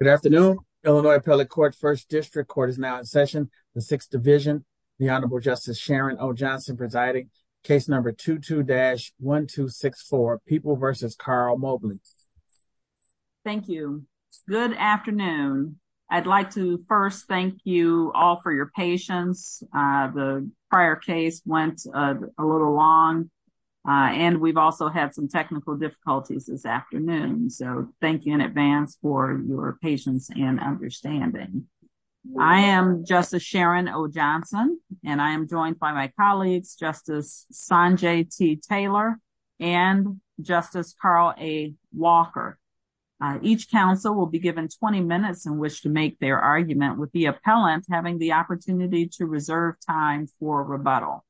Good afternoon, Illinois Appellate Court First District Court is now in session, the Sixth Division. The Honorable Justice Sharon O. Johnson presiding, case number 22-1264, People v. Carl Mobley. Thank you. Good afternoon. I'd like to first thank you all for your patience. The prior case went a little long and we've also had some technical difficulties this afternoon. So thank you in advance for your patience and understanding. I am Justice Sharon O. Johnson, and I am joined by my colleagues, Justice Sanjay T. Taylor, and Justice Carl A. Walker. Each counsel will be given 20 minutes in which to make their argument with the appellant having the opportunity to reserve time for rebuttal.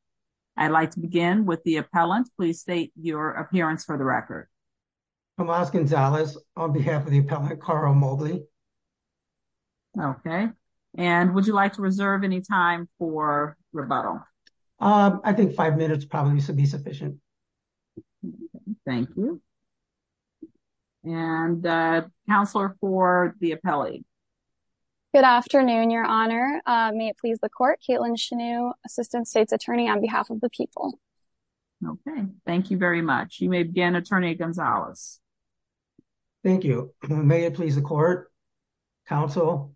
I'd like to begin with the appellant. Please state your appearance for the record. Tomas Gonzalez on behalf of the appellant, Carl Mobley. Okay. And would you like to reserve any time for rebuttal? I think five minutes probably should be sufficient. Thank you. And counselor for the appellate. Good afternoon, Your Honor. May it please the court, Caitlin Chanew, Assistant State's Attorney on behalf of the people. Okay. Thank you very much. You may begin, Attorney Gonzalez. Thank you. May it please the court, counsel.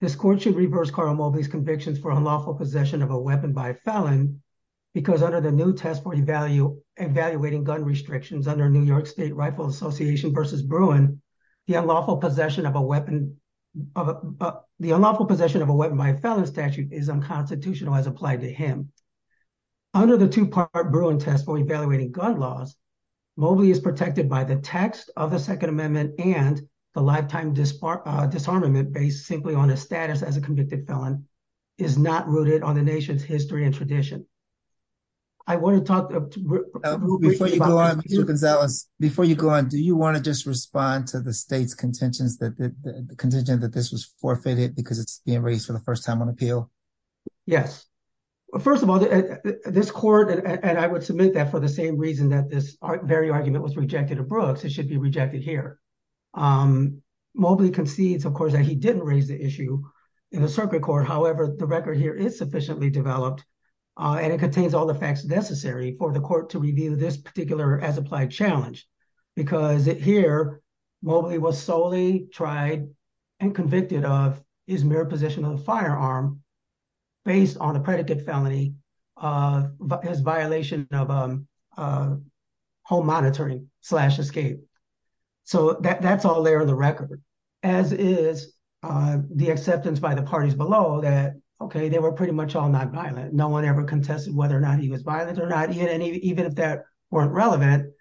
This court should reverse Carl Mobley's convictions for unlawful possession of a weapon by a felon because under the new test for evaluating gun restrictions under New York State Rifle Association v. Bruin, the unlawful possession of a weapon by a felon statute is unconstitutional as applied to him. Under the two-part Bruin test for evaluating gun laws, Mobley is protected by the text of the Second Amendment and the lifetime disarmament based simply on his status as a convicted felon is not rooted on the nation's history and tradition. I want to talk- Before you go on, Mr. Gonzalez, before you go on, you want to just respond to the state's contention that this was forfeited because it's being raised for the first time on appeal? Yes. First of all, this court, and I would submit that for the same reason that this very argument was rejected at Brooks, it should be rejected here. Mobley concedes, of course, that he didn't raise the issue in the circuit court. However, the record here is sufficiently developed and it contains all the facts necessary for the here, Mobley was solely tried and convicted of his mere possession of a firearm based on a predicate felony, his violation of home monitoring slash escape. That's all there in the record, as is the acceptance by the parties below that, okay, they were pretty much all not violent. No one ever contested whether or not he was violent or not. Even if that weren't relevant,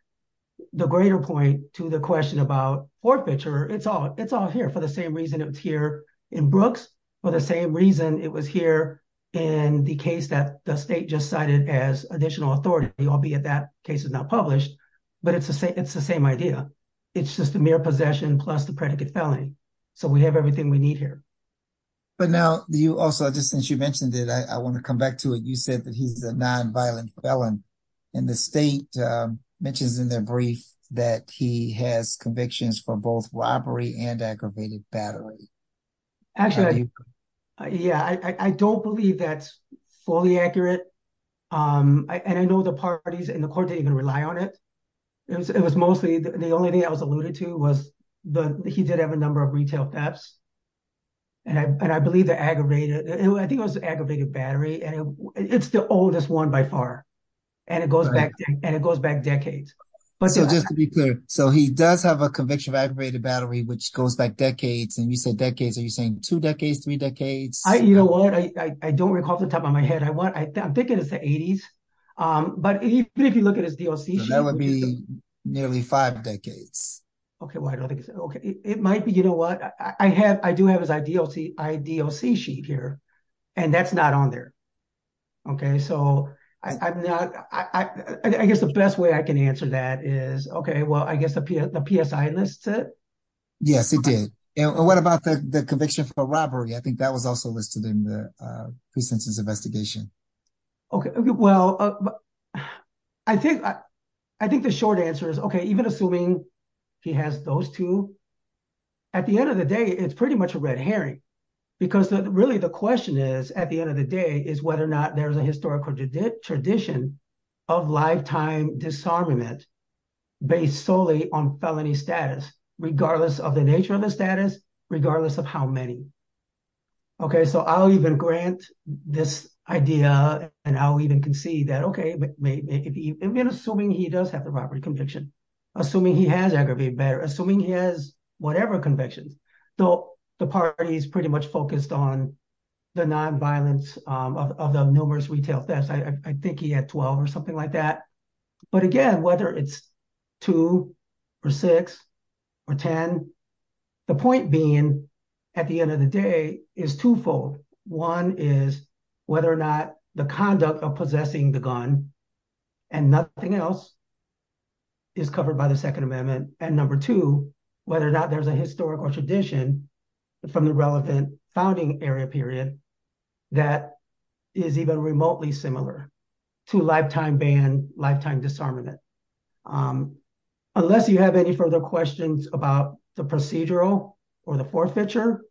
the greater point to the question about forfeiture, it's all here for the same reason it was here in Brooks, for the same reason it was here in the case that the state just cited as additional authority, albeit that case is not published, but it's the same idea. It's just a mere possession plus the predicate felony. We have everything we need here. But now you also, just since you mentioned it, I want to come back to it. You said that he's a non-violent felon and the state mentions in their brief that he has convictions for both robbery and aggravated battery. Actually, yeah, I don't believe that's fully accurate. And I know the parties in the court didn't even rely on it. It was mostly the only thing I was alluded to was the, he did have a number of retail thefts and I believe the aggravated, I think it was aggravated battery and it's the oldest one by far. And it goes back decades. But so just to be clear, so he does have a conviction of aggravated battery, which goes back decades. And you said decades, are you saying two decades, three decades? I, you know what, I don't recall off the top of my head. I want, I'm thinking it's the eighties. But even if you look at his DOC, that would be nearly five decades. Okay. Well, I don't think it's okay. It might be, you know what I have, I do have his IDOC sheet here and that's not on there. Okay. So I guess the best way I can answer that is, okay, well, I guess the PSI lists it. Yes, it did. And what about the conviction for robbery? I think that was also listed in the pre-sentence investigation. Okay. Well, I think the short answer is okay. Even assuming he has those two, at the end of the day, it's pretty much a red herring because really the question is, at the end of the day is whether or not there's a historical tradition of lifetime disarmament based solely on felony status, regardless of the nature of the status, regardless of how many. Okay. So I'll even grant this idea and I'll even concede that, okay, maybe even assuming he does have the robbery conviction, assuming he has aggravated matter, assuming he has whatever convictions, though the parties pretty much focused on the non-violence of the numerous retail thefts. I think he had 12 or something like that. But again, whether it's two or six or 10, the point being at the end of the day is twofold. One is whether or not the conduct of possessing the gun and nothing else is covered by the Second Amendment. And number two, whether or not there's a historical tradition from the relevant founding area period that is even remotely similar to lifetime ban, lifetime disarmament. Unless you have any further questions about the procedural or the forfeiture,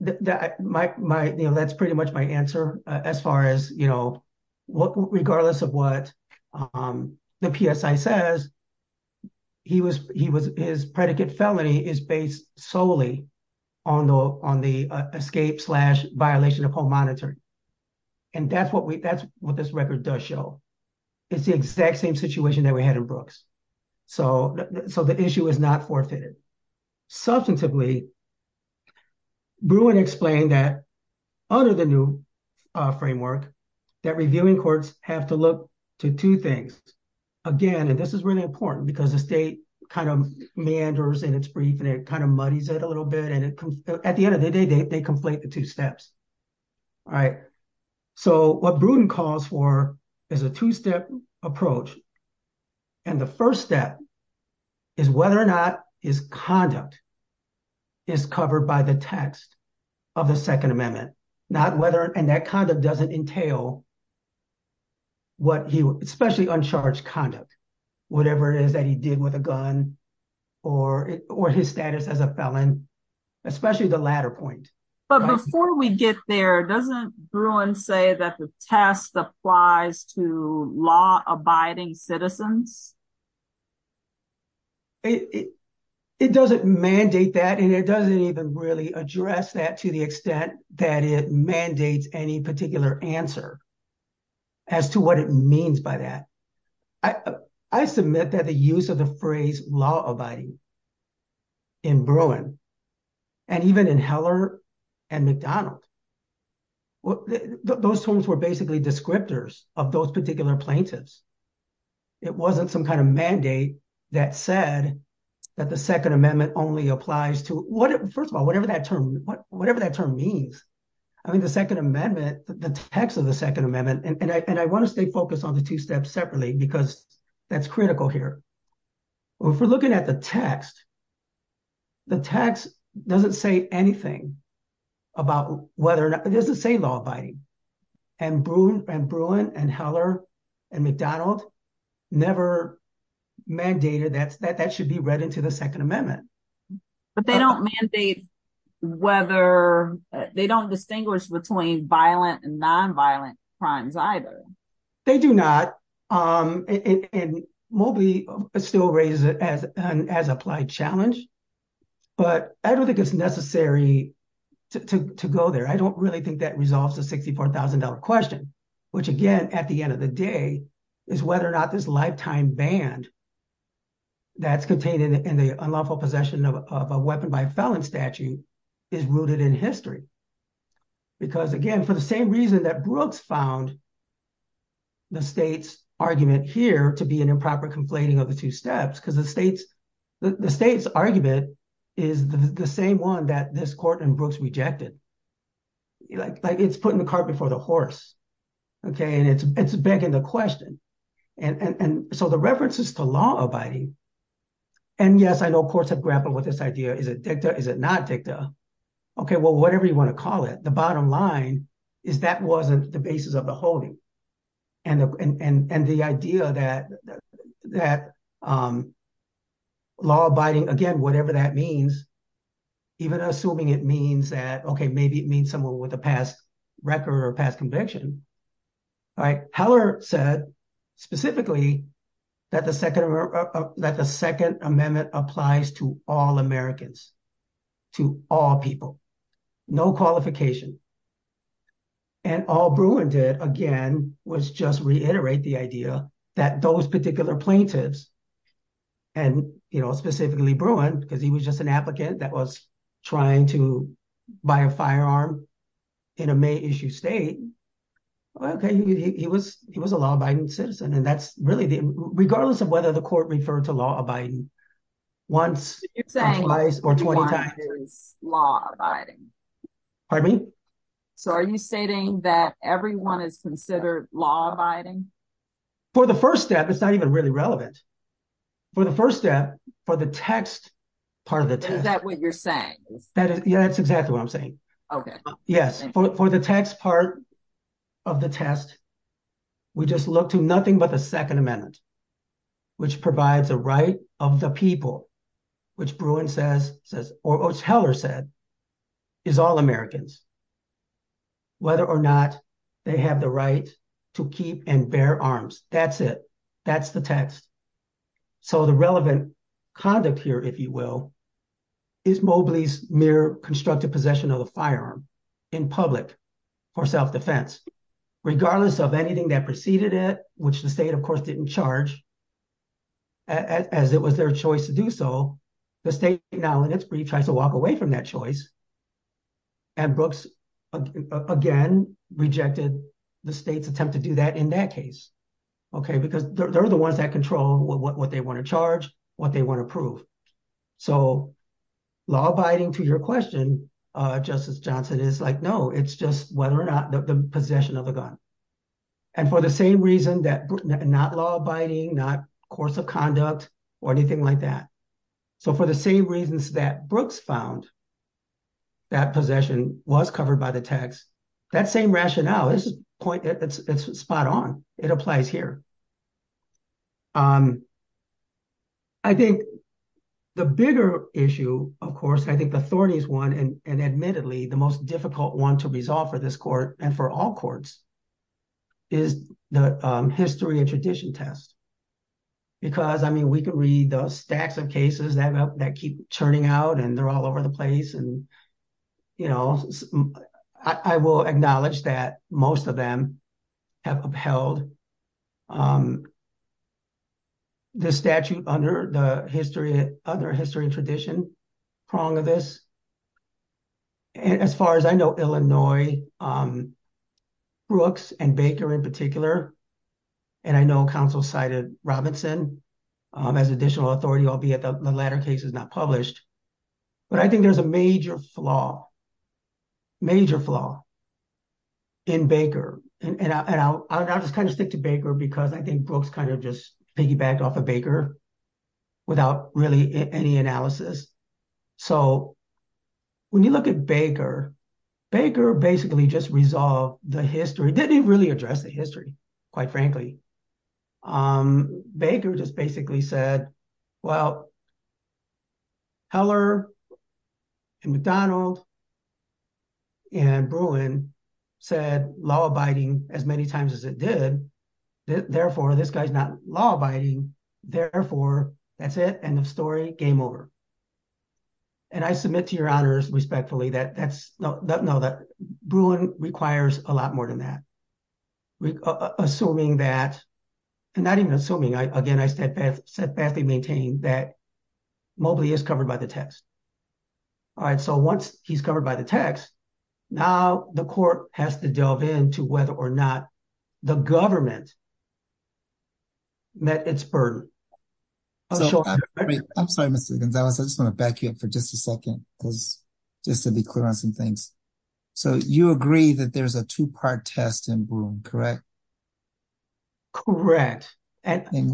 that's pretty much my answer as far as, you know, regardless of what the PSI says, his predicate felony is based solely on the escape slash violation of home monitoring. And that's what this record does show. It's the exact same situation that we had in Brooks. So the issue is not forfeited. Substantively, Bruin explained that under the new framework, that reviewing courts have to look to two things. Again, and this is really important because the state kind of meanders in its brief and it kind of muddies it a little bit. And at the end of the day, they conflate the two steps. All right. So what Bruin calls for is a two-step approach. And the first step is whether or not his conduct is covered by the text of the Second Amendment, not whether, and that kind of doesn't entail what he, especially uncharged conduct, whatever it is that he did with a gun or his status as a felon, especially the latter point. But before we get there, doesn't Bruin say that the test applies to law abiding citizens? It doesn't mandate that. And it doesn't even really address that to the extent that it mandates any particular answer as to what it means by that. I submit that the use the phrase law abiding in Bruin and even in Heller and McDonald, those terms were basically descriptors of those particular plaintiffs. It wasn't some kind of mandate that said that the Second Amendment only applies to, first of all, whatever that term means. I mean, the Second Amendment, the text of the Second Amendment, and I want to stay focused on the two steps separately because that's critical here. If we're looking at the text, the text doesn't say anything about whether or not, it doesn't say law abiding. And Bruin and Heller and McDonald never mandated that that should be read into the Second Amendment. But they don't mandate whether, they don't distinguish between violent and nonviolent crimes either. They do not. And Moby still raises it as an as applied challenge. But I don't think it's necessary to go there. I don't really think that resolves the $64,000 question, which again, at the end of the day, is whether or not this lifetime band that's contained in the unlawful possession of a weapon by a felon statute is rooted in history. Because again, for the same reason that Brooks found the state's argument here to be an improper conflating of the two steps, because the state's argument is the same one that this court and Brooks rejected. It's putting the cart before the horse. And it's begging the question. And so the references to law abiding, and yes, I know courts have grappled with this idea, is it dicta, is it not dicta? Okay, well, whatever you want to call it, the bottom line is that wasn't the basis of the holding. And the idea that law abiding, again, whatever that means, even assuming it means that, okay, maybe it means someone with a past record or past conviction. All right, Heller said specifically that the Second Amendment applies to all Americans, to all people, no qualification. And all Bruin did, again, was just reiterate the idea that those particular plaintiffs, and specifically Bruin, because he was just an applicant that was trying to buy a firearm in a May issue state. Okay, he was a law abiding citizen. And that's really the, regardless of whether the court referred to law abiding once or twice or 20 times. You're saying everyone is law abiding. Pardon me? So are you stating that everyone is considered law abiding? For the first step, it's not even really relevant. For the first step, for the text, part of the text. Is that what you're saying? That is, yeah, that's exactly what I'm saying. Okay. Yes. For the text part of the test, we just look to nothing but the Second Amendment, which provides a right of the people, which Bruin says, or Heller said, is all Americans, whether or not they have the right to keep and bear arms. That's it. That's the text. So the relevant conduct here, if you will, is Mobley's mere constructed possession of a firearm in public or self-defense, regardless of anything that preceded it, which the state, of course, didn't charge as it was their choice to do so. The state now in its brief tries to walk away from that choice. And Brooks, again, rejected the state's attempt to do that in that case. Okay. Because they're the ones that control what they want to charge, what they want to prove. So law abiding to your question, Justice Johnson is like, no, it's just whether or not the possession of a gun. And for the same reason that not law abiding, not course of conduct or anything like that. So for the same reasons that Brooks found that possession was covered by the text, that same rationale is spot on. It applies here. I think the bigger issue, of course, I think the thorniest one, and admittedly, the most difficult one to resolve for this court and for all courts is the history and tradition test. Because, I mean, we could read the stacks of cases that keep churning out and they're all over the place. I will acknowledge that most of them have upheld the statute under history and tradition prong of this. As far as I know, Illinois, Brooks and Baker in particular, and I know counsel cited Robinson as additional authority, albeit the latter case is not published. But I think there's a major flaw, major flaw in Baker. And I'll just kind of stick to Baker because I think Brooks kind of just piggybacked off of Baker without really any analysis. So when you look at Baker, Baker basically just resolved the history, didn't really address the history, quite frankly. Baker just basically said, well, Heller and McDonald and Bruin said law-abiding as many times as it did. Therefore, this guy's not law-abiding. Therefore, that's it, end of story, game over. And I submit to your honors, respectfully, that Bruin requires a lot more than that. Assuming that, and not even assuming, again, I steadfastly maintain that Mobley is covered by the text. All right, so once he's covered by the text, now the court has to delve into whether or not the government met its burden. I'm sorry, Mr. Gonzalez, I just want to back you up for just a second, just to be clear on some things. So you agree that there's a two-part test in Bruin, correct? Correct. Okay,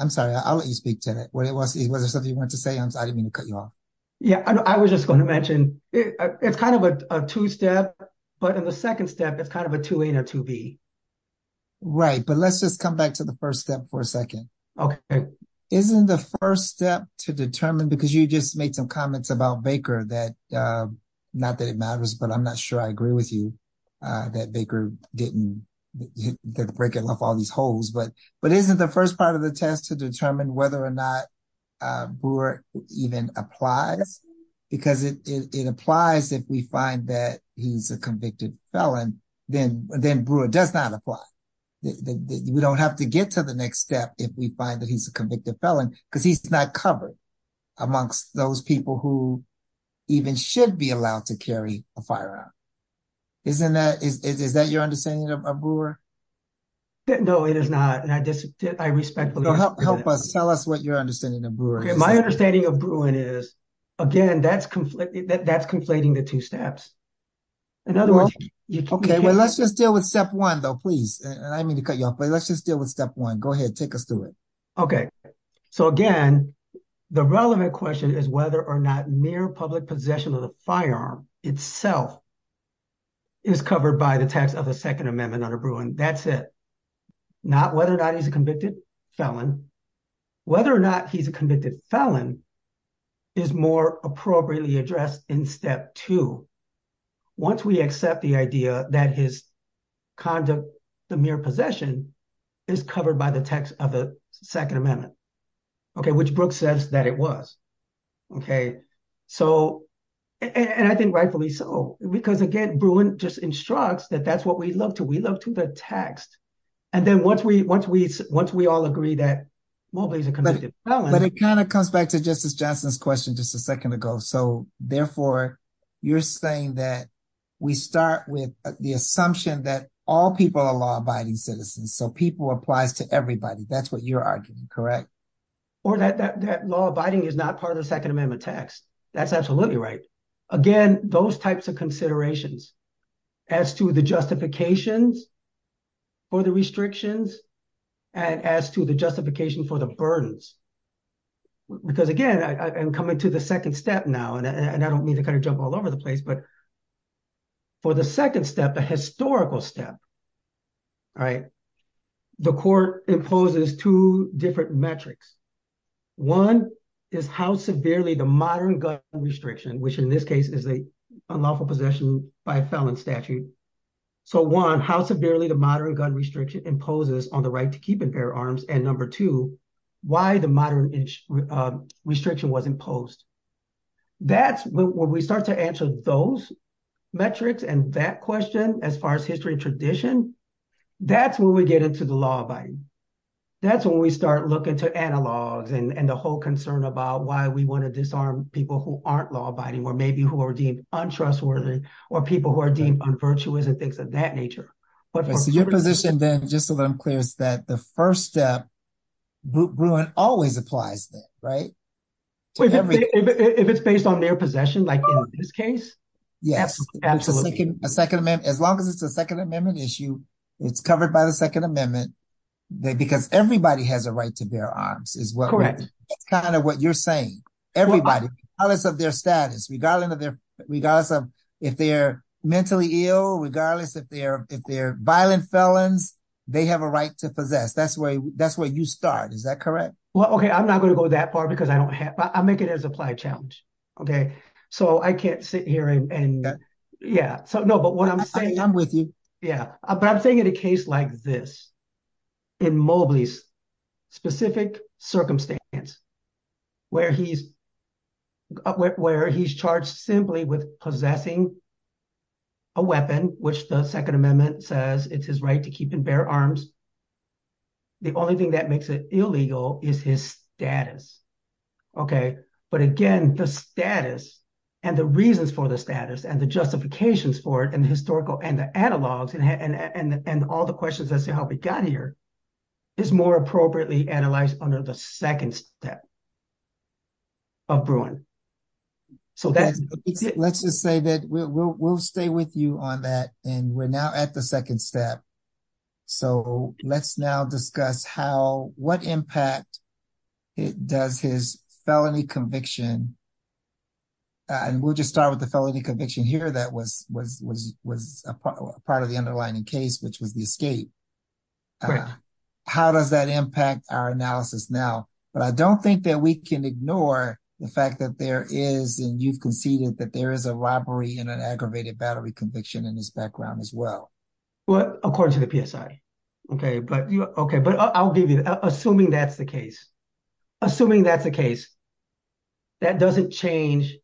I'm sorry, I'll let you speak to that. Was there something you wanted to say? I didn't mean to cut you off. Yeah, I was just going to mention, it's kind of a two-step, but in the second step, it's kind of a 2A and a 2B. Right, but let's just come back to the first step for a second. Okay. Isn't the first step to determine, because you just made some comments about Baker that, not that it matters, but I'm not sure I agree with you, that Baker didn't break it off all these holes. But isn't the first part of the test to determine whether or not Brewer even applies? Because it applies if we find that he's a convicted felon, then Brewer does not apply. We don't have to get to the next step if we find that he's a convicted felon, because he's not covered amongst those people who even should be allowed to carry a firearm. Is that your understanding of Brewer? No, it is not, and I respectfully disagree. Help us, tell us what your understanding of Brewer is. My understanding of Bruin is, again, that's conflating the two steps. In other words... Okay, well, let's just deal with step one, though, please. I didn't mean to cut you off, but let's just deal with step one. Go ahead, take us through it. Okay. So again, the relevant question is whether or not mere public possession of the firearm itself is covered by the text of the Second Amendment under Bruin. That's it. Not whether or not he's a convicted felon. Whether or not he's a convicted felon is more appropriately addressed in step two, once we accept the idea that his conduct, the mere possession, is covered by the text of the Second Amendment, which Brooks says that it was. And I think rightfully so, because again, Bruin just instructs that that's what we love to. We love to the text. And then once we all agree that Mobley's a convicted felon... Justice Johnson's question just a second ago. So therefore, you're saying that we start with the assumption that all people are law-abiding citizens. So people applies to everybody. That's what you're arguing, correct? Or that law-abiding is not part of the Second Amendment text. That's absolutely right. Again, those types of considerations as to the justifications for the restrictions and as to the justification for the burdens. Because again, I'm coming to the second step now. And I don't mean to kind of jump all over the place, but for the second step, the historical step, the court imposes two different metrics. One is how severely the modern gun restriction, which in this case is the unlawful possession by a felon statute. So one, how severely the modern gun restriction imposes on the right to keep and bear arms. And number two, why the modern restriction was imposed. That's when we start to answer those metrics and that question, as far as history and tradition, that's when we get into the law-abiding. That's when we start looking to analogs and the whole concern about why we want to disarm people who aren't law-abiding or maybe who are deemed untrustworthy or people who are deemed unvirtuous and things of that nature. So your position then, just so that I'm clear, is that the first step, Bruin always applies that, right? If it's based on their possession, like in this case? Yes, absolutely. As long as it's a Second Amendment issue, it's covered by the Second Amendment because everybody has a right to bear arms. That's kind of what you're saying. Everybody, regardless of their status, regardless of if they're mentally ill, regardless if they're violent felons, they have a right to possess. That's where you start. Is that correct? Well, okay. I'm not going to go that far because I don't have... I'll make it as applied challenge. Okay. So I can't sit here and... Yeah. So no, but what I'm saying... I'm with you. Yeah. But I'm saying in a case like this, in Mobley's specific circumstance where he's simply with possessing a weapon, which the Second Amendment says it's his right to keep in bare arms, the only thing that makes it illegal is his status. Okay. But again, the status and the reasons for the status and the justifications for it and the historical and the analogs and all the questions as to how we got here is more appropriately analyzed under the second step of Bruin. So that's... Let's just say that we'll stay with you on that. And we're now at the second step. So let's now discuss how, what impact does his felony conviction... And we'll just start with the felony conviction here that was a part of the underlining case, which was the escape. Correct. How does that impact our analysis now? But I don't think that we can ignore the fact that there is, and you've conceded that there is a robbery and an aggravated battery conviction in his background as well. Well, according to the PSI. Okay. But I'll give you... Assuming that's the case. Assuming that's the case, that doesn't change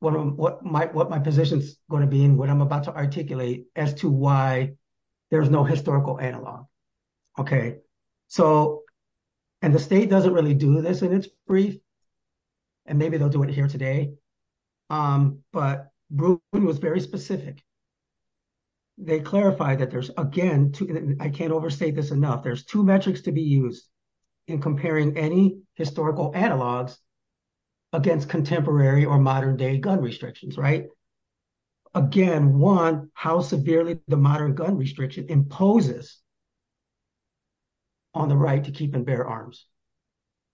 what my position's going to be and what I'm about to articulate as to why there's no historical analog. Okay. And the state doesn't really do this and it's brief, and maybe they'll do it here today. But Bruin was very specific. They clarified that there's again... I can't overstate this enough. There's two metrics to be used in comparing any historical analogs against contemporary or modern day gun restrictions. Right? Again, one, how severely the modern gun restriction imposes on the right to keep and bear arms.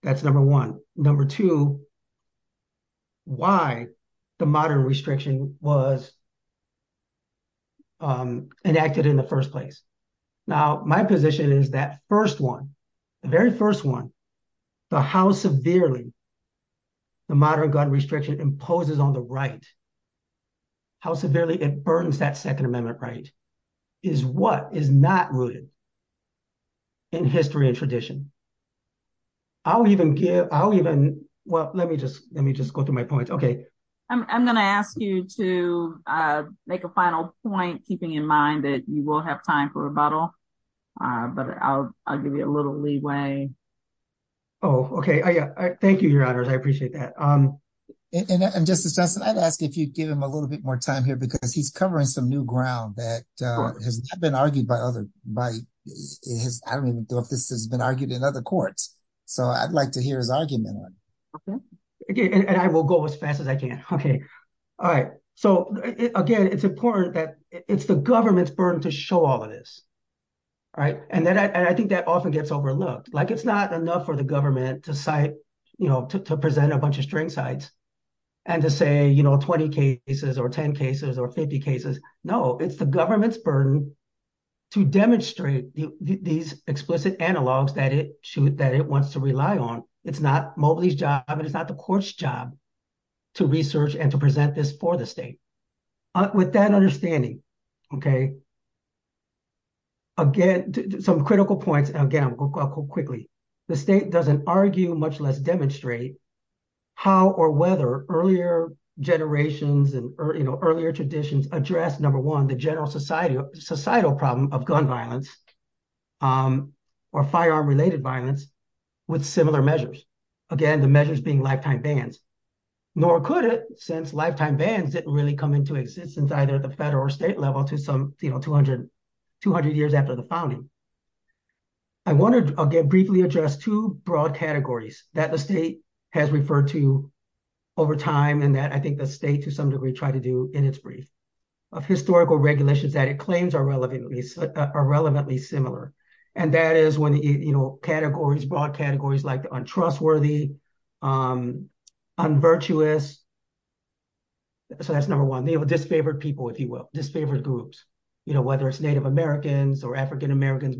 That's number one. Number two, why the modern restriction was enacted in the first place. Now, my position is that first one, the very first one, the how severely the modern gun restriction imposes on the right, how severely it burns that second amendment right, is what is not rooted in history and tradition. I'll even give... I'll even... Well, let me just go through my points. Okay. I'm going to ask you to make a final point, keeping in mind that you will have time for rebuttal, but I'll give you a little leeway. Oh, okay. Thank you, Your Honors. I appreciate that. And Justice Johnson, I'd ask if you'd give him a little bit more time here because he's covering some new ground that has not been argued by other... I don't even know if this has been argued in other courts. So I'd like to hear his argument on it. Okay. And I will go as fast as I can. Okay. All right. So again, it's important that it's the government's burden to show all of this. All right. And I think that often gets overlooked. It's not enough for the government to present a bunch of string sites and to say 20 cases or 10 cases or 50 cases. No, it's the government's burden to demonstrate these explicit analogs that it wants to rely on. It's not Mobley's job and it's not the court's job to research and to present this for the state. With that understanding, okay, again, some critical points. And again, I'll go quickly. The state doesn't argue much less demonstrate how or whether earlier generations and earlier traditions address, number one, the general societal problem of gun violence or firearm related violence with similar measures. Again, the measures being lifetime bans. Nor could it, lifetime bans didn't really come into existence either at the federal or state level to some 200 years after the founding. I'll briefly address two broad categories that the state has referred to over time and that I think the state to some degree tried to do in its brief of historical regulations that it claims are relevantly similar. And that is when categories, broad categories like untrustworthy, unvirtuous. So that's number one. Disfavored people, if you will, disfavored groups, whether it's Native Americans or African-Americans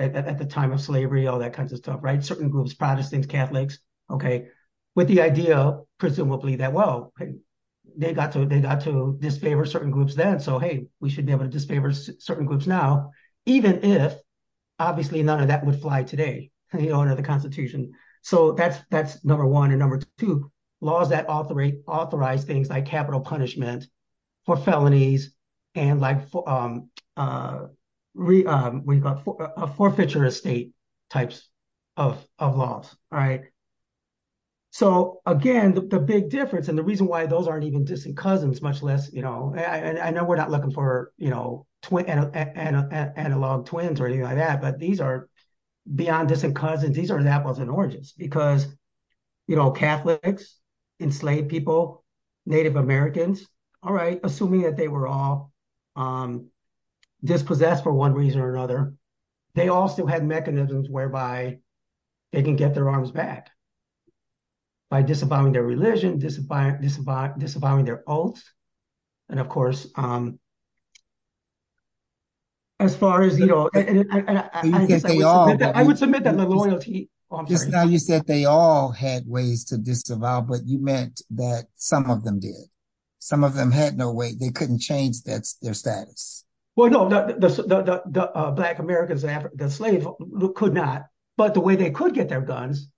at the time of slavery, all that kinds of stuff, right? Certain groups, Protestants, Catholics, okay. With the idea presumably that, well, they got to disfavor certain groups then. So, hey, we should be able to disfavor certain groups now, even if obviously none of that would fly today from the owner of the constitution. So that's number one. And number two, laws that authorize things like capital punishment for felonies and like a forfeiture of state types of laws, right? So again, the big difference and the reason why those aren't even distant cousins, much less, and I know we're not looking for analog twins or anything like that, but these are beyond distant cousins. These are examples in origins because Catholics, enslaved people, Native Americans, all right, assuming that they were all dispossessed for one reason or another, they all still had mechanisms whereby they can their arms back by disavowing their religion, disavowing their oaths. And of course, as far as, you know, I would submit that the loyalty- Just now you said they all had ways to disavow, but you meant that some of them did. Some of them had no way. They couldn't change their status. Well, no, the black Americans, the slave could not, but the way they could get their guns,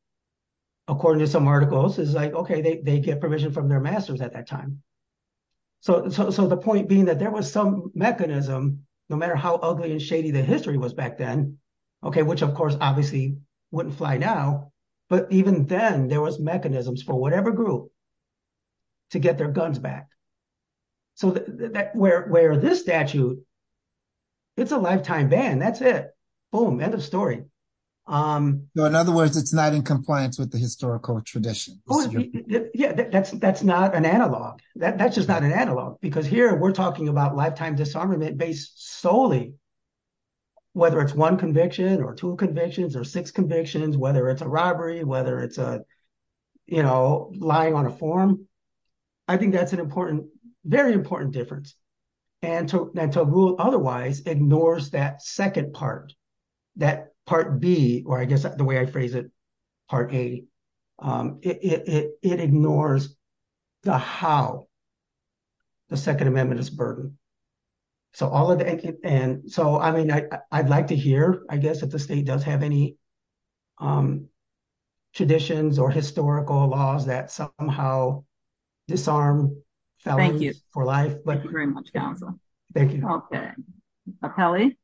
according to some articles, is like, okay, they get permission from their masters at that time. So the point being that there was some mechanism, no matter how ugly and shady the history was back then, okay, which of course obviously wouldn't fly now, but even then there was mechanisms for it. It's a lifetime ban. That's it. Boom. End of story. In other words, it's not in compliance with the historical tradition. Yeah, that's not an analog. That's just not an analog because here we're talking about lifetime disarmament based solely whether it's one conviction or two convictions or six convictions, whether it's a robbery, whether it's a, you know, lying on a form. I think that's an important, very important difference. And to rule otherwise ignores that second part, that part B, or I guess the way I phrase it, part A. It ignores the how, the second amendment is burdened. So all of the, and so, I mean, I'd like to hear, I guess, if the state does have any traditions or historical laws that somehow disarm felons for life. Thank you very much, counsel. Thank you. Okay. Apelli.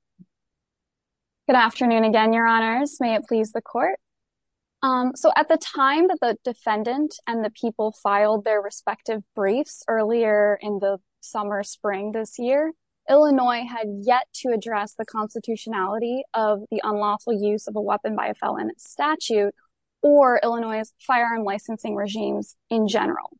Good afternoon again, your honors. May it please the court. So at the time that the defendant and the people filed their respective briefs earlier in the summer, spring this year, Illinois had yet to address the constitutionality of the unlawful use of a weapon by a felon statute or Illinois' firearm licensing regimes in general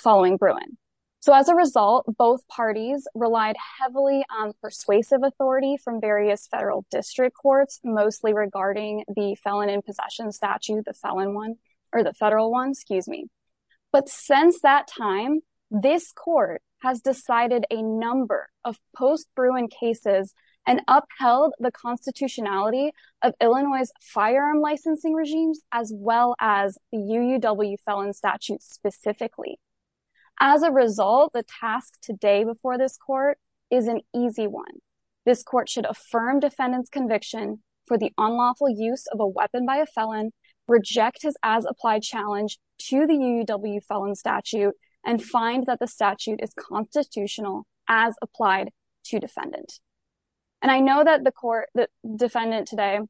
following Bruin. So as a result, both parties relied heavily on persuasive authority from various federal district courts, mostly regarding the felon in possession statute, the felon one or the federal one, excuse me. But since that time, this court has decided a number of post Bruin cases and upheld the constitutionality of Illinois' firearm licensing regimes, as well as the UUW felon statute specifically. As a result, the task today before this court is an easy one. This court should affirm defendant's conviction for the unlawful use of a weapon by a felon, reject his as applied challenge to the UUW felon statute and find that the statute is constitutional as applied to defendant. And I know that the court, defendant today,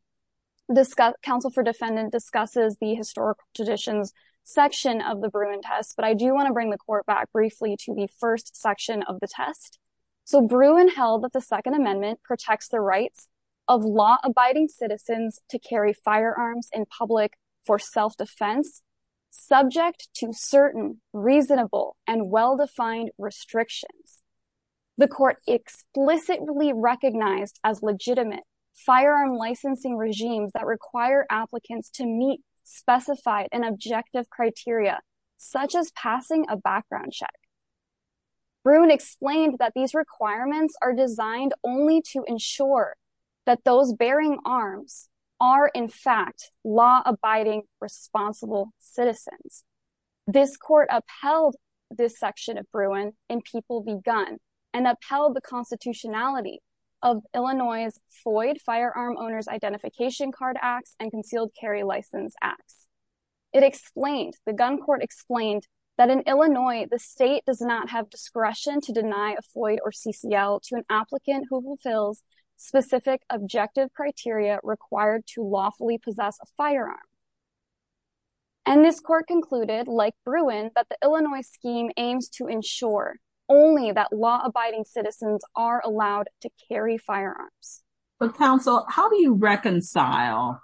counsel for defendant discusses the historical traditions section of the Bruin test, but I do want to bring the court back briefly to the first section of the test. So Bruin held that the second amendment protects the rights of law abiding citizens to carry firearms in public for self-defense, subject to certain reasonable and well-defined restrictions. The court explicitly recognized as legitimate firearm licensing regimes that require applicants to meet specified and objective criteria, such as passing a background check. Bruin explained that these requirements are designed only to ensure that those bearing arms are in fact law abiding, responsible citizens. This court upheld this section of gun and upheld the constitutionality of Illinois' Floyd firearm owner's identification card acts and concealed carry license acts. It explained the gun court explained that in Illinois, the state does not have discretion to deny a Floyd or CCL to an applicant who fulfills specific objective criteria required to lawfully possess a firearm. And this court concluded like Bruin, but the Illinois scheme aims to ensure only that law abiding citizens are allowed to carry firearms. But counsel, how do you reconcile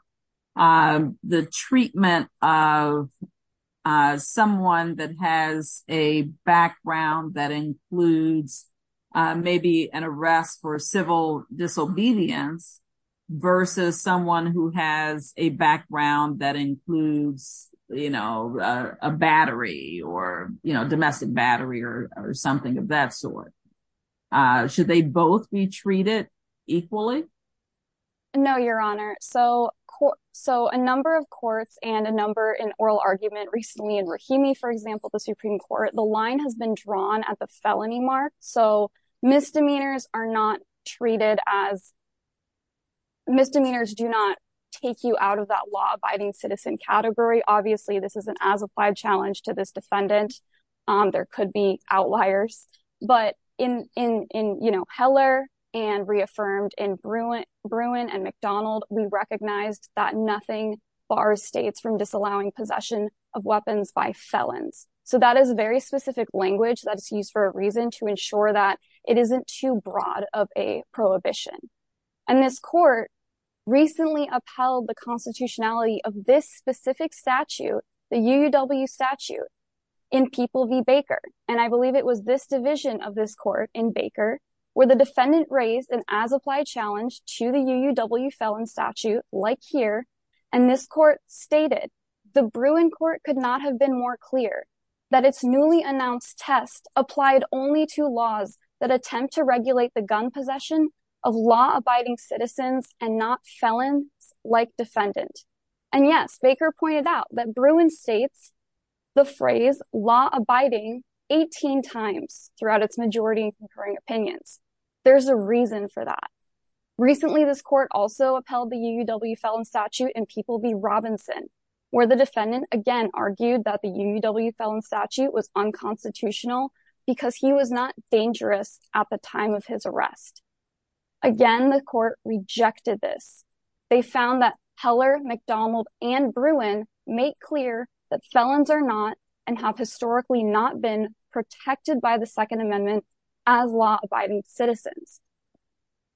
the treatment of someone that has a background that includes maybe an arrest for civil disobedience versus someone who has a background that includes, you know, a battery or, you know, domestic battery or something of that sort? Should they both be treated equally? No, your honor. So, so a number of courts and a number in oral argument recently in Rahimi, for example, the Supreme court, the line has been drawn at the felony mark. So misdemeanors are not treated as misdemeanors do not take you out of that law abiding citizen category. Obviously this is an as applied challenge to this defendant. There could be outliers, but in, in, in, you know, Heller and reaffirmed in Bruin and McDonald, we recognized that nothing bars States from disallowing possession of weapons by felons. So that is very specific language that is used for a reason to ensure that it isn't too broad of a prohibition. And this court recently upheld the constitutionality of this specific statute, the UW statute in people be Baker. And I believe it was this division of this court in Baker where the defendant raised an as applied challenge to the UW felon statute like here. And this court stated the Bruin court could not have been more clear that it's newly announced test applied only to laws that attempt to regulate the gun possession of law abiding citizens and not felons like defendant. And yes, Baker pointed out that Bruin States, the phrase law abiding 18 times throughout its majority and concurring opinions. There's a reason for that. Recently, this court also upheld the UW felon statute and people be Robinson where the defendant again, argued that the UW felon statute was unconstitutional because he was not dangerous at the time of his arrest. Again, the court rejected this. They found that Heller McDonald and Bruin make clear that felons are not and have historically not been protected by the second amendment as law abiding citizens.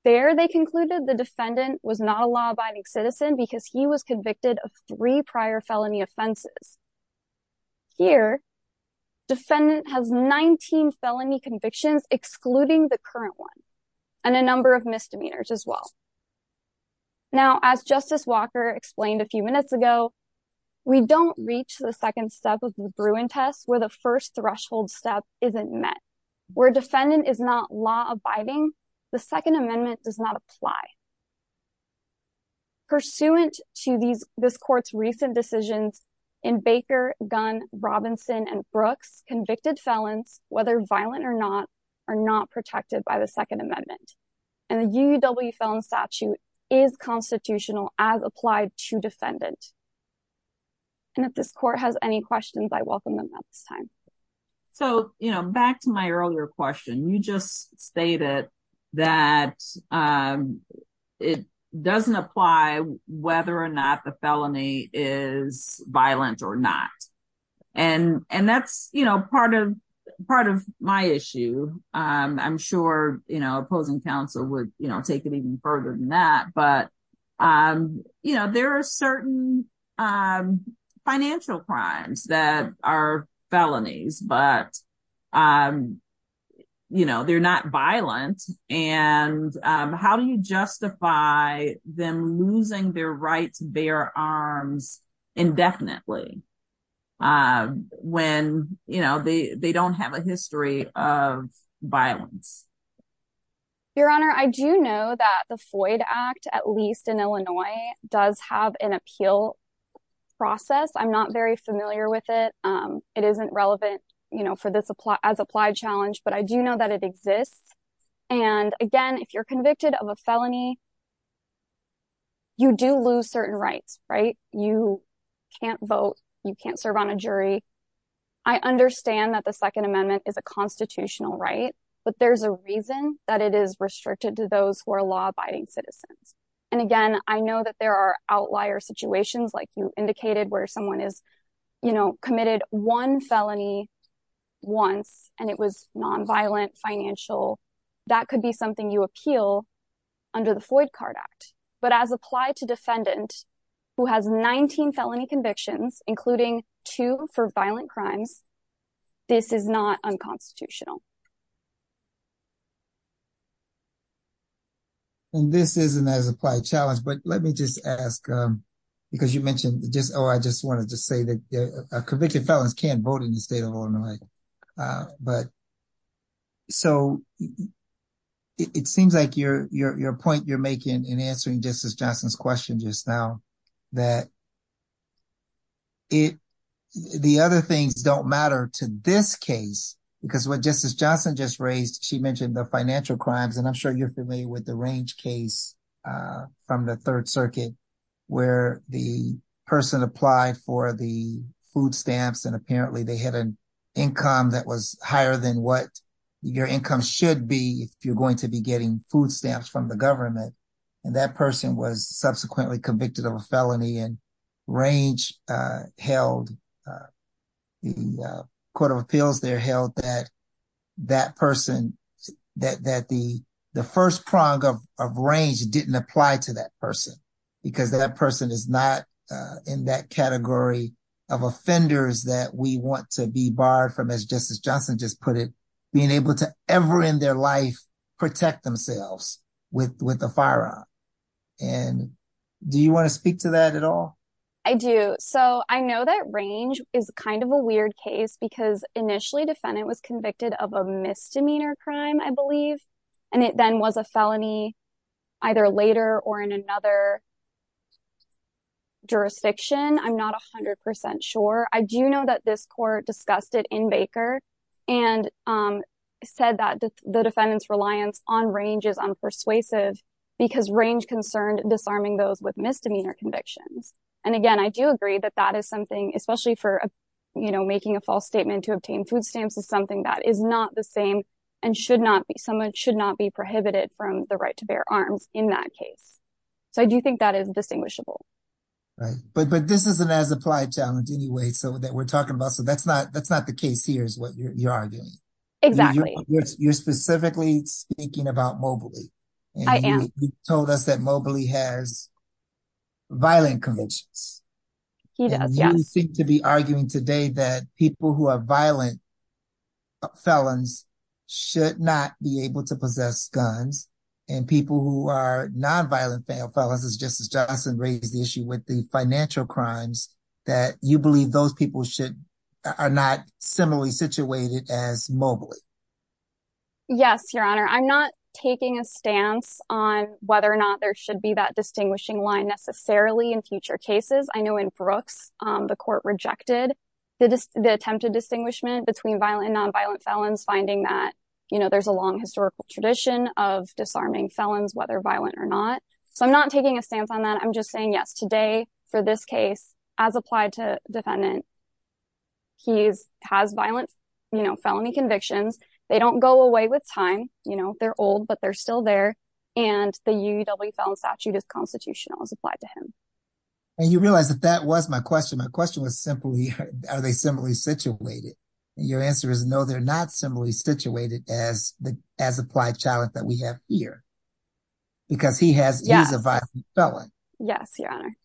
There, they concluded the defendant was not a law abiding citizen because he was convicted of three prior felony offenses. Here, defendant has 19 felony convictions, excluding the current one, and a number of misdemeanors as well. Now, as Justice Walker explained a few minutes ago, we don't reach the second step of the Bruin test where the first threshold step isn't met. Where defendant is not law abiding, the second amendment does not apply. Pursuant to this court's recent decisions in Baker, Gunn, Robinson, and Brooks, convicted felons, whether violent or not, are not protected by the second amendment. And the UW felon statute is constitutional as applied to defendant. And if this court has any questions, I welcome them at this time. So, you know, back to my earlier question, you just stated that it doesn't apply whether or not the felony is violent or not. And, and that's, you know, part of part of my issue. I'm sure, you know, opposing counsel would, you know, take it even further than that. But, you know, there are certain financial crimes that are felonies, but, you know, they're not violent. And how do you justify them losing their right to bear arms indefinitely? When, you know, they, they don't have a history of violence. Your Honor, I do know that the Floyd Act, at least in Illinois, does have an appeal process. I'm not very familiar with it. It isn't relevant, you know, for this as applied challenge, but I do know that it exists. And again, if you're convicted of a felony, you do lose certain rights, right? You can't vote, you can't serve on a jury. I understand that the Second Amendment is a constitutional right, but there's a reason that it is restricted to those who are law-abiding citizens. And again, I know that there are outlier situations, like you indicated, where someone is, you know, committed one felony once, and it was nonviolent, financial. That could be something you appeal under the Floyd Card Act. But as applied to defendant who has 19 felony convictions, including two for violent crimes, this is not unconstitutional. And this isn't as applied challenge, but let me just ask, because you mentioned just, oh, I just wanted to say that convicted felons can't vote in the state of Illinois. But so it seems like your point you're making in answering Justice Johnson's question just now, that the other things don't matter to this case, because what Justice Johnson just raised, she mentioned the financial crimes, and I'm sure you're familiar with the Range case from the Third Circuit, where the person applied for the food stamps, and apparently they had an income that was higher than what your income should be if you're going to be getting food stamps from the government. And that person was subsequently convicted of a felony, and Range held, the Court of Appeals there held that that person, that the first prong of Range didn't apply to that person, because that person is not in that category of offenders that we want to be barred from, as Justice Johnson just put it, being able to ever in their life protect themselves with a firearm. And do you want to speak to that at all? I do. So I know that Range is kind of a weird case, because initially defendant was convicted of a misdemeanor crime, I believe, and it then was a felony either later or in another jurisdiction. I'm not 100% sure. I do know that this court discussed it in Baker, and said that the defendant's reliance on Range is unpersuasive, because Range concerned disarming those with misdemeanor convictions. And again, I do agree that that is something, especially for, you know, making a false statement to obtain food stamps, is something that is not the same, and should not be, someone should not be prohibited from the right to bear arms in that case. So I do think that is distinguishable. Right, but this is an applied challenge anyway, so that we're talking about, so that's not the case here is what you're arguing. Exactly. You're specifically speaking about Mobley. I am. You told us that Mobley has violent convictions. He does, yes. And you seem to be arguing today that people who are violent felons should not be able to possess guns, and people who are non-violent felons, as Justice Huffman said, should not be able to possess guns. And you're saying that these are financial crimes that you believe those people should, are not similarly situated as Mobley? Yes, your honor. I'm not taking a stance on whether or not there should be that distinguishing line necessarily in future cases. I know in Brooks, the court rejected the attempted distinguishment between violent and non-violent felons, finding that, you know, there's a long historical tradition of disarming felons, whether violent or not. So I'm not taking a stance on that. I'm just saying, yes, today for this case, as applied to defendant, he has violent, you know, felony convictions. They don't go away with time, you know, they're old, but they're still there. And the UUW felon statute is constitutional as applied to him. And you realize that that was my question. My question was simply, are they similarly situated? And your answer is no, they're not similarly situated as the, as applied challenge that we have here because he has, he's a violent felon. Yes, your honor.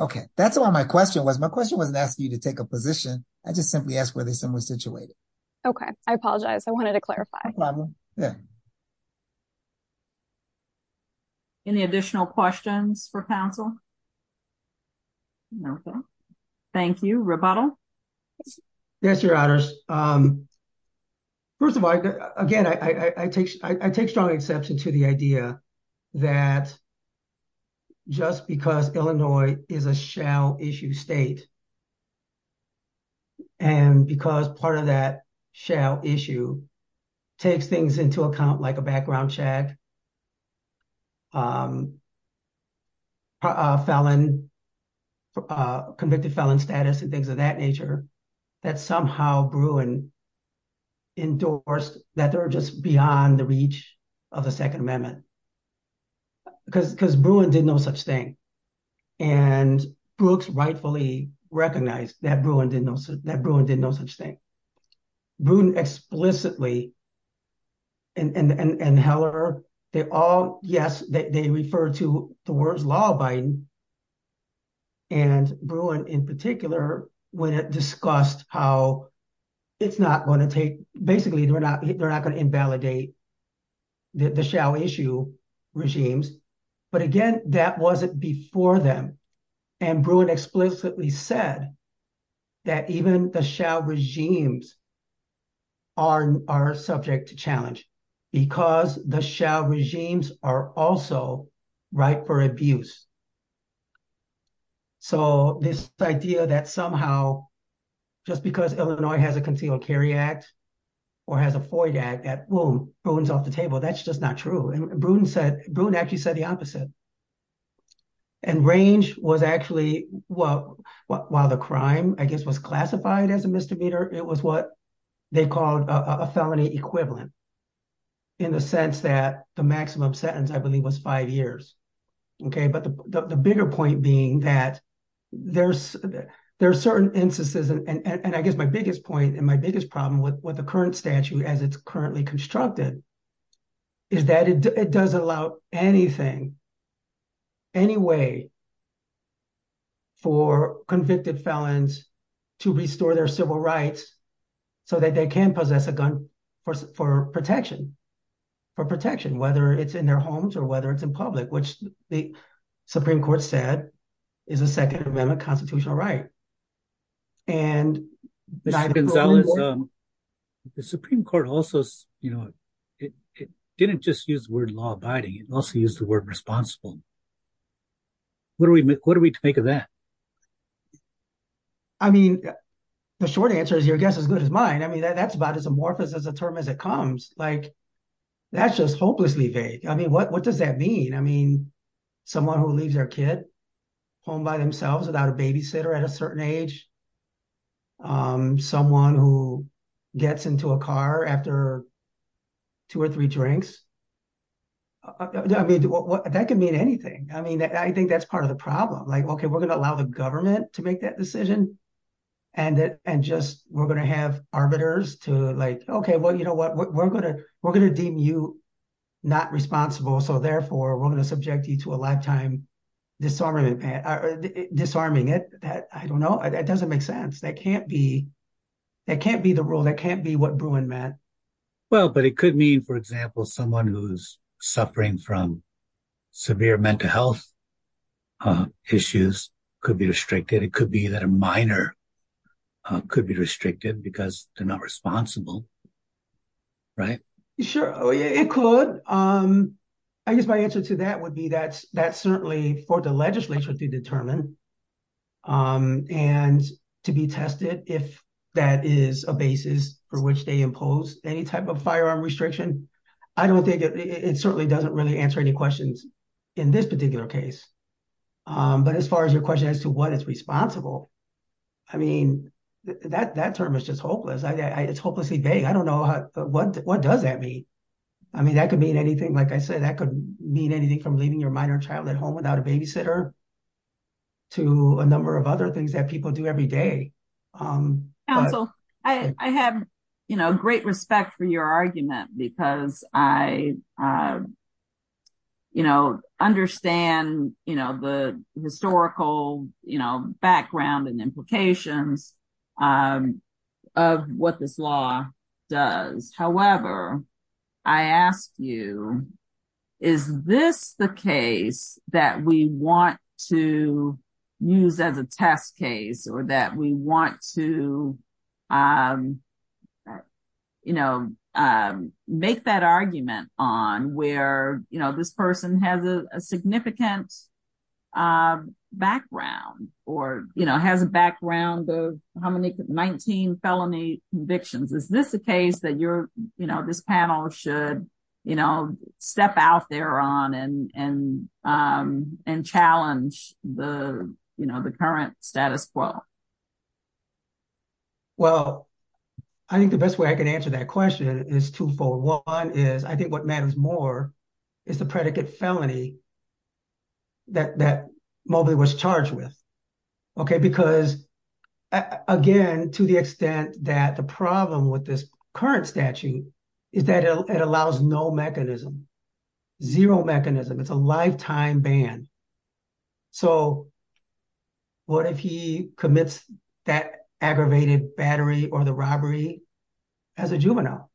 Okay. That's why my question was, my question wasn't asking you to take a position. I just simply asked where they're similarly situated. Okay. I apologize. I wanted to clarify. Any additional questions for counsel? No. Thank you. Rebuttal. Yes, your honors. First of all, again, I take, I take strong exception to the idea that just because Illinois is a shall issue state and because part of that shall issue takes things into account, like a background check, a felon, convicted felon status and things of that nature, that somehow Bruin endorsed that they're just beyond the reach of the second amendment. Because, because Bruin did no such thing. And Brooks rightfully recognized that Bruin didn't know, that Bruin did no such thing. Bruin explicitly, and Heller, they all, yes, they refer to the words law abiding. And Bruin in particular, when it discussed how it's not going to take, basically they're not, they're not going to invalidate the shall issue regimes. But again, that wasn't before them. And Bruin explicitly said that even the shall regimes are, are subject to challenge because the shall regimes are also ripe for abuse. So this idea that somehow, just because Illinois has a concealed carry act or has a FOIA act, that, well, Bruin's off the table. That's was actually what, while the crime, I guess, was classified as a misdemeanor. It was what they called a felony equivalent in the sense that the maximum sentence I believe was five years. Okay. But the bigger point being that there's, there are certain instances. And I guess my biggest point and my biggest problem with what the current statute as it's currently constructed is that it does allow anything, any way for convicted felons to restore their civil rights so that they can possess a gun for protection, for protection, whether it's in their homes or whether it's in public, which the Supreme Court said is a second amendment constitutional right. And- Mr. Gonzalez, the Supreme Court also, you know, it didn't just use the word law abiding, it also used the word responsible. What do we, what do we make of that? I mean, the short answer is your guess as good as mine. I mean, that's about as amorphous as a term as it comes. Like that's just hopelessly vague. I mean, what, what does that mean? I mean, someone who leaves their kid home by themselves without a babysitter at a certain age, someone who gets into a car after two or three drinks. I mean, that could mean anything. I mean, I think that's part of the problem. Like, okay, we're going to allow the government to make that decision and just, we're going to have arbiters to like, okay, well, you know what, we're going to, we're going to deem you not responsible. So therefore we're going to subject you to a lifetime disarming it. I don't know. It doesn't make sense. That can't be, that can't be the rule. That can't be what Bruin meant. Well, but it could mean, for example, someone who's suffering from severe mental health issues could be restricted. It could be that a minor could be restricted because they're not responsible, right? Sure. It could. I guess my answer to that would be that's, that's certainly for the legislature to determine and to be tested if that is a basis for which they impose any type of firearm restriction. I don't think it certainly doesn't really answer any questions in this particular case. But as far as your question as to what is responsible, I mean, that, that term is just hopeless. I, it's hopelessly vague. I don't know what, what does that mean? I mean, that could mean anything. Like I said, that could mean anything from leaving your minor child at home without a babysitter to a number of other things that people do every day. I have, you know, great respect for your argument because I, you know, understand, you know, the historical, you know, background and implications of what this law does. However, I ask you, is this the case that we want to use as a test case or that we want to, you know, make that argument on where, you know, this person has a significant background or, you know, has a background of how many, 19 felony convictions? Is this a case that you're, you know, this panel should, you know, step out there on and, and, and challenge the, you know, the current status quo? Well, I think the best way I can answer that question is two fold. One is, I think what matters more is the predicate felony that, that Mobley was charged with. Okay. Because again, to the extent that the problem with this current statute is that it allows no mechanism, zero mechanism, it's a lifetime ban. So what if he commits that aggravated battery or the robbery as a juvenile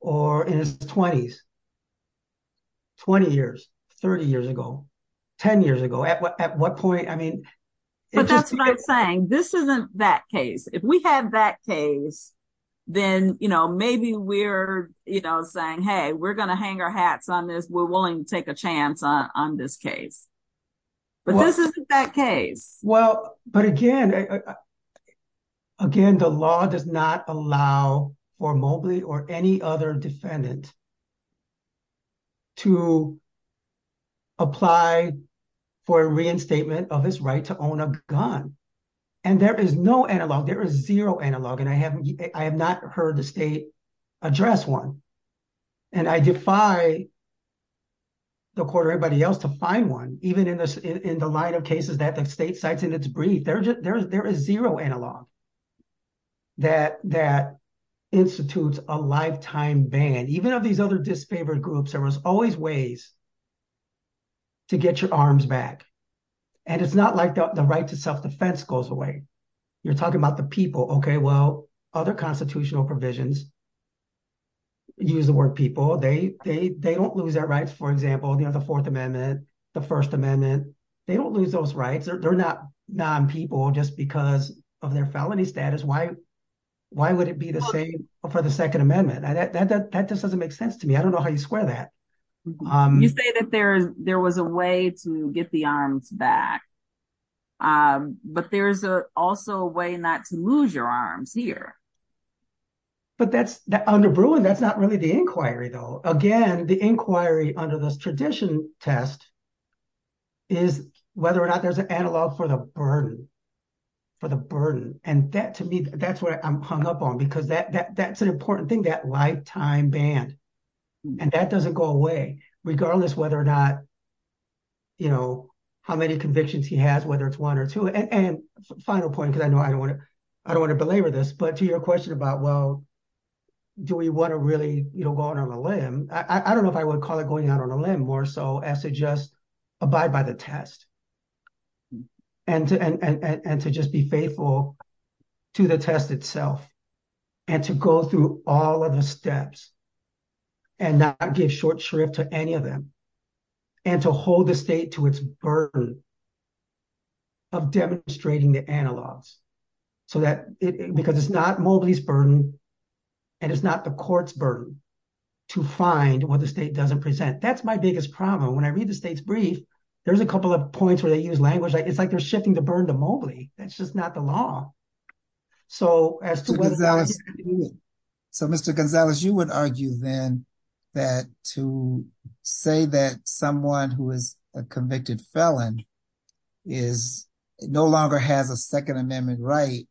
or in his twenties, 20 years, 30 years ago, 10 years ago, at what point, I mean. But that's what I'm saying. This isn't that case. If we have that case, then, you know, maybe we're, you know, saying, Hey, we're going to hang our hats on this. We're willing to take a chance on this case, but this isn't that case. Well, but again, again, the law does not allow for Mobley or any other defendant to apply for a reinstatement of his right to own a gun. And there is no analog. There is zero analog. And I have, I have not heard the state address one and I defy the court or everybody else to find one, even in the, in the line of cases that the state cites in its brief, there are just, there is zero analog that, that institutes a lifetime ban. Even of these other disfavored groups, there was always ways to get your arms back. And it's not like the right to self-defense goes away. You're talking about the people. Okay. Well, other constitutional provisions use the word people. They, they, they don't lose their rights. For example, you know, the fourth amendment, the first amendment, they don't lose those rights. They're not non-people just because of their felony status. Why, why would it be the same for the second amendment? That just doesn't make sense to me. I don't know how you square that. You say that there's, there was a way to get the arms back. But there's also a way not to lose your arms here. But that's, under Bruin, that's not really the inquiry though. Again, the inquiry under this tradition test is whether or not there's an analog for the burden, for the burden. And that to me, that's what I'm hung up on because that, that, that's an important thing, that lifetime ban. And that doesn't go away regardless whether or not, you know, how many convictions he has, whether it's one or two. And, and final point, because I know I don't want to, I don't want to belabor this, but to your question about, well, do we want to really, you know, go out on a limb? I don't know if I would call it going out on a limb more so as to just abide by the test and to, and to just be faithful to the test itself and to go through all of the steps and not give short shrift to any of them and to hold the state to its burden of demonstrating the analogs so that it, because it's not Mobley's burden and it's not the court's burden to find what the state doesn't present. That's my biggest problem. When I read the state's brief, there's a couple of points where they use language. It's like they're Mr. Gonzalez, you would argue then that to say that someone who is a convicted felon is no longer has a second amendment right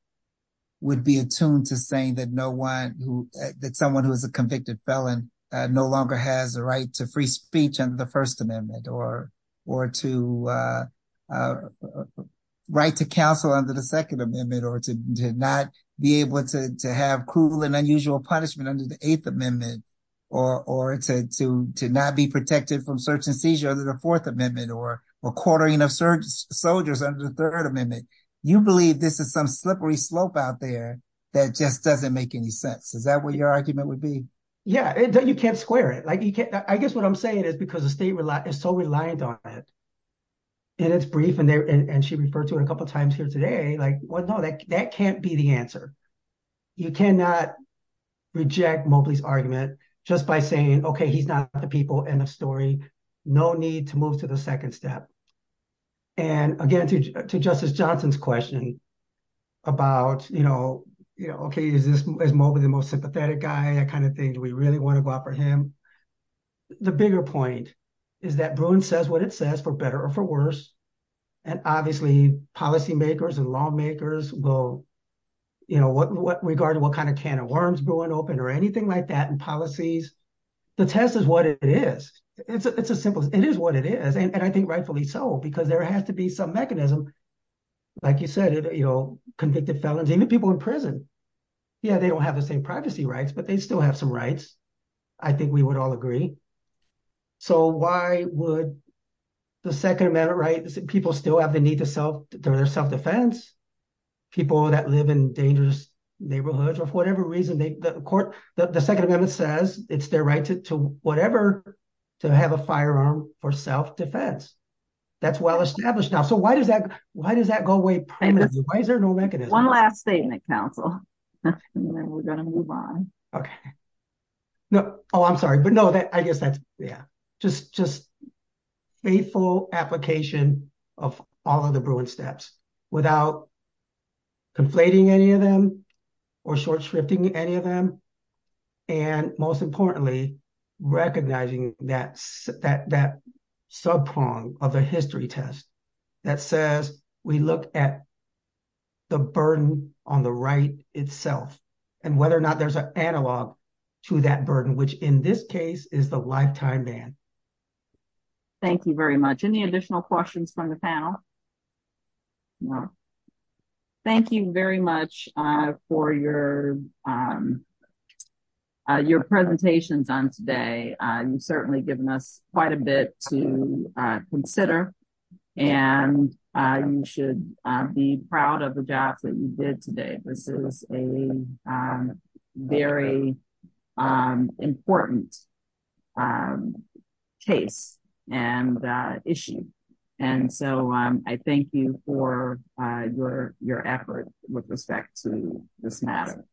would be attuned to saying that no one who, that someone who is a convicted felon no longer has a right to free speech under the first amendment or, or to a right to counsel under the second amendment, or to not be able to have cruel and unusual punishment under the eighth amendment or, or to, to, to not be protected from search and seizure under the fourth amendment or, or quartering of search soldiers under the third amendment. You believe this is some slippery slope out there that just doesn't make any sense. Is that what your argument would be? Yeah. You can't square it. Like you can't, I guess what I'm saying is because the state is so reliant on it and it's brief and they're, and she referred to it a couple of times here today, like, well, no, that can't be the answer. You cannot reject Mobley's argument just by saying, okay, he's not the people in the story, no need to move to the second step. And again, to, to justice Johnson's question about, you know, you know, okay, is this, is Mobley the most sympathetic guy, that kind of thing? Do we really want to go out for him? The bigger point is that Bruin says what it says for better or for worse. And obviously policymakers and lawmakers will, you know, what, what regard to what kind of can of worms brewing open or anything like that in policies, the test is what it is. It's a, it's a simple, it is what it is. And I think rightfully so, because there has to be some mechanism, like you said, you know, convicted felons, even people in prison. Yeah. They don't have the same privacy rights, but they still have some rights. I think we would all agree. So why would the second amendment, right? People still have the need to self defense people that live in dangerous neighborhoods, or for whatever reason, the court, the second amendment says it's their right to, to whatever, to have a firearm for self defense. That's well established now. So why does that, why does that go away? Why is there no mechanism? One last thing that council, and then we're going to move on. Okay. No, oh, I'm sorry. But no, I guess that's, yeah, just, just faithful application of all of the Bruin steps without conflating any of them, or short shrifting any of them. And most importantly, recognizing that, that, that subprong of the history test that says, we look at the burden on the right itself, and whether or not there's an analog to that burden, which in this case, is the lifetime ban. Thank you very much. Any additional questions from the panel? No. Thank you very much for your, your presentations on today. You've certainly given us quite a bit to consider. And you should be proud of the jobs that you did today. This is a very important case and issue. And so I thank you for your, your effort with respect to this matter.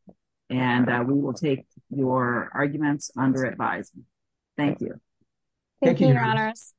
And we will take your arguments under advisement. Thank you. Thank you, your honors.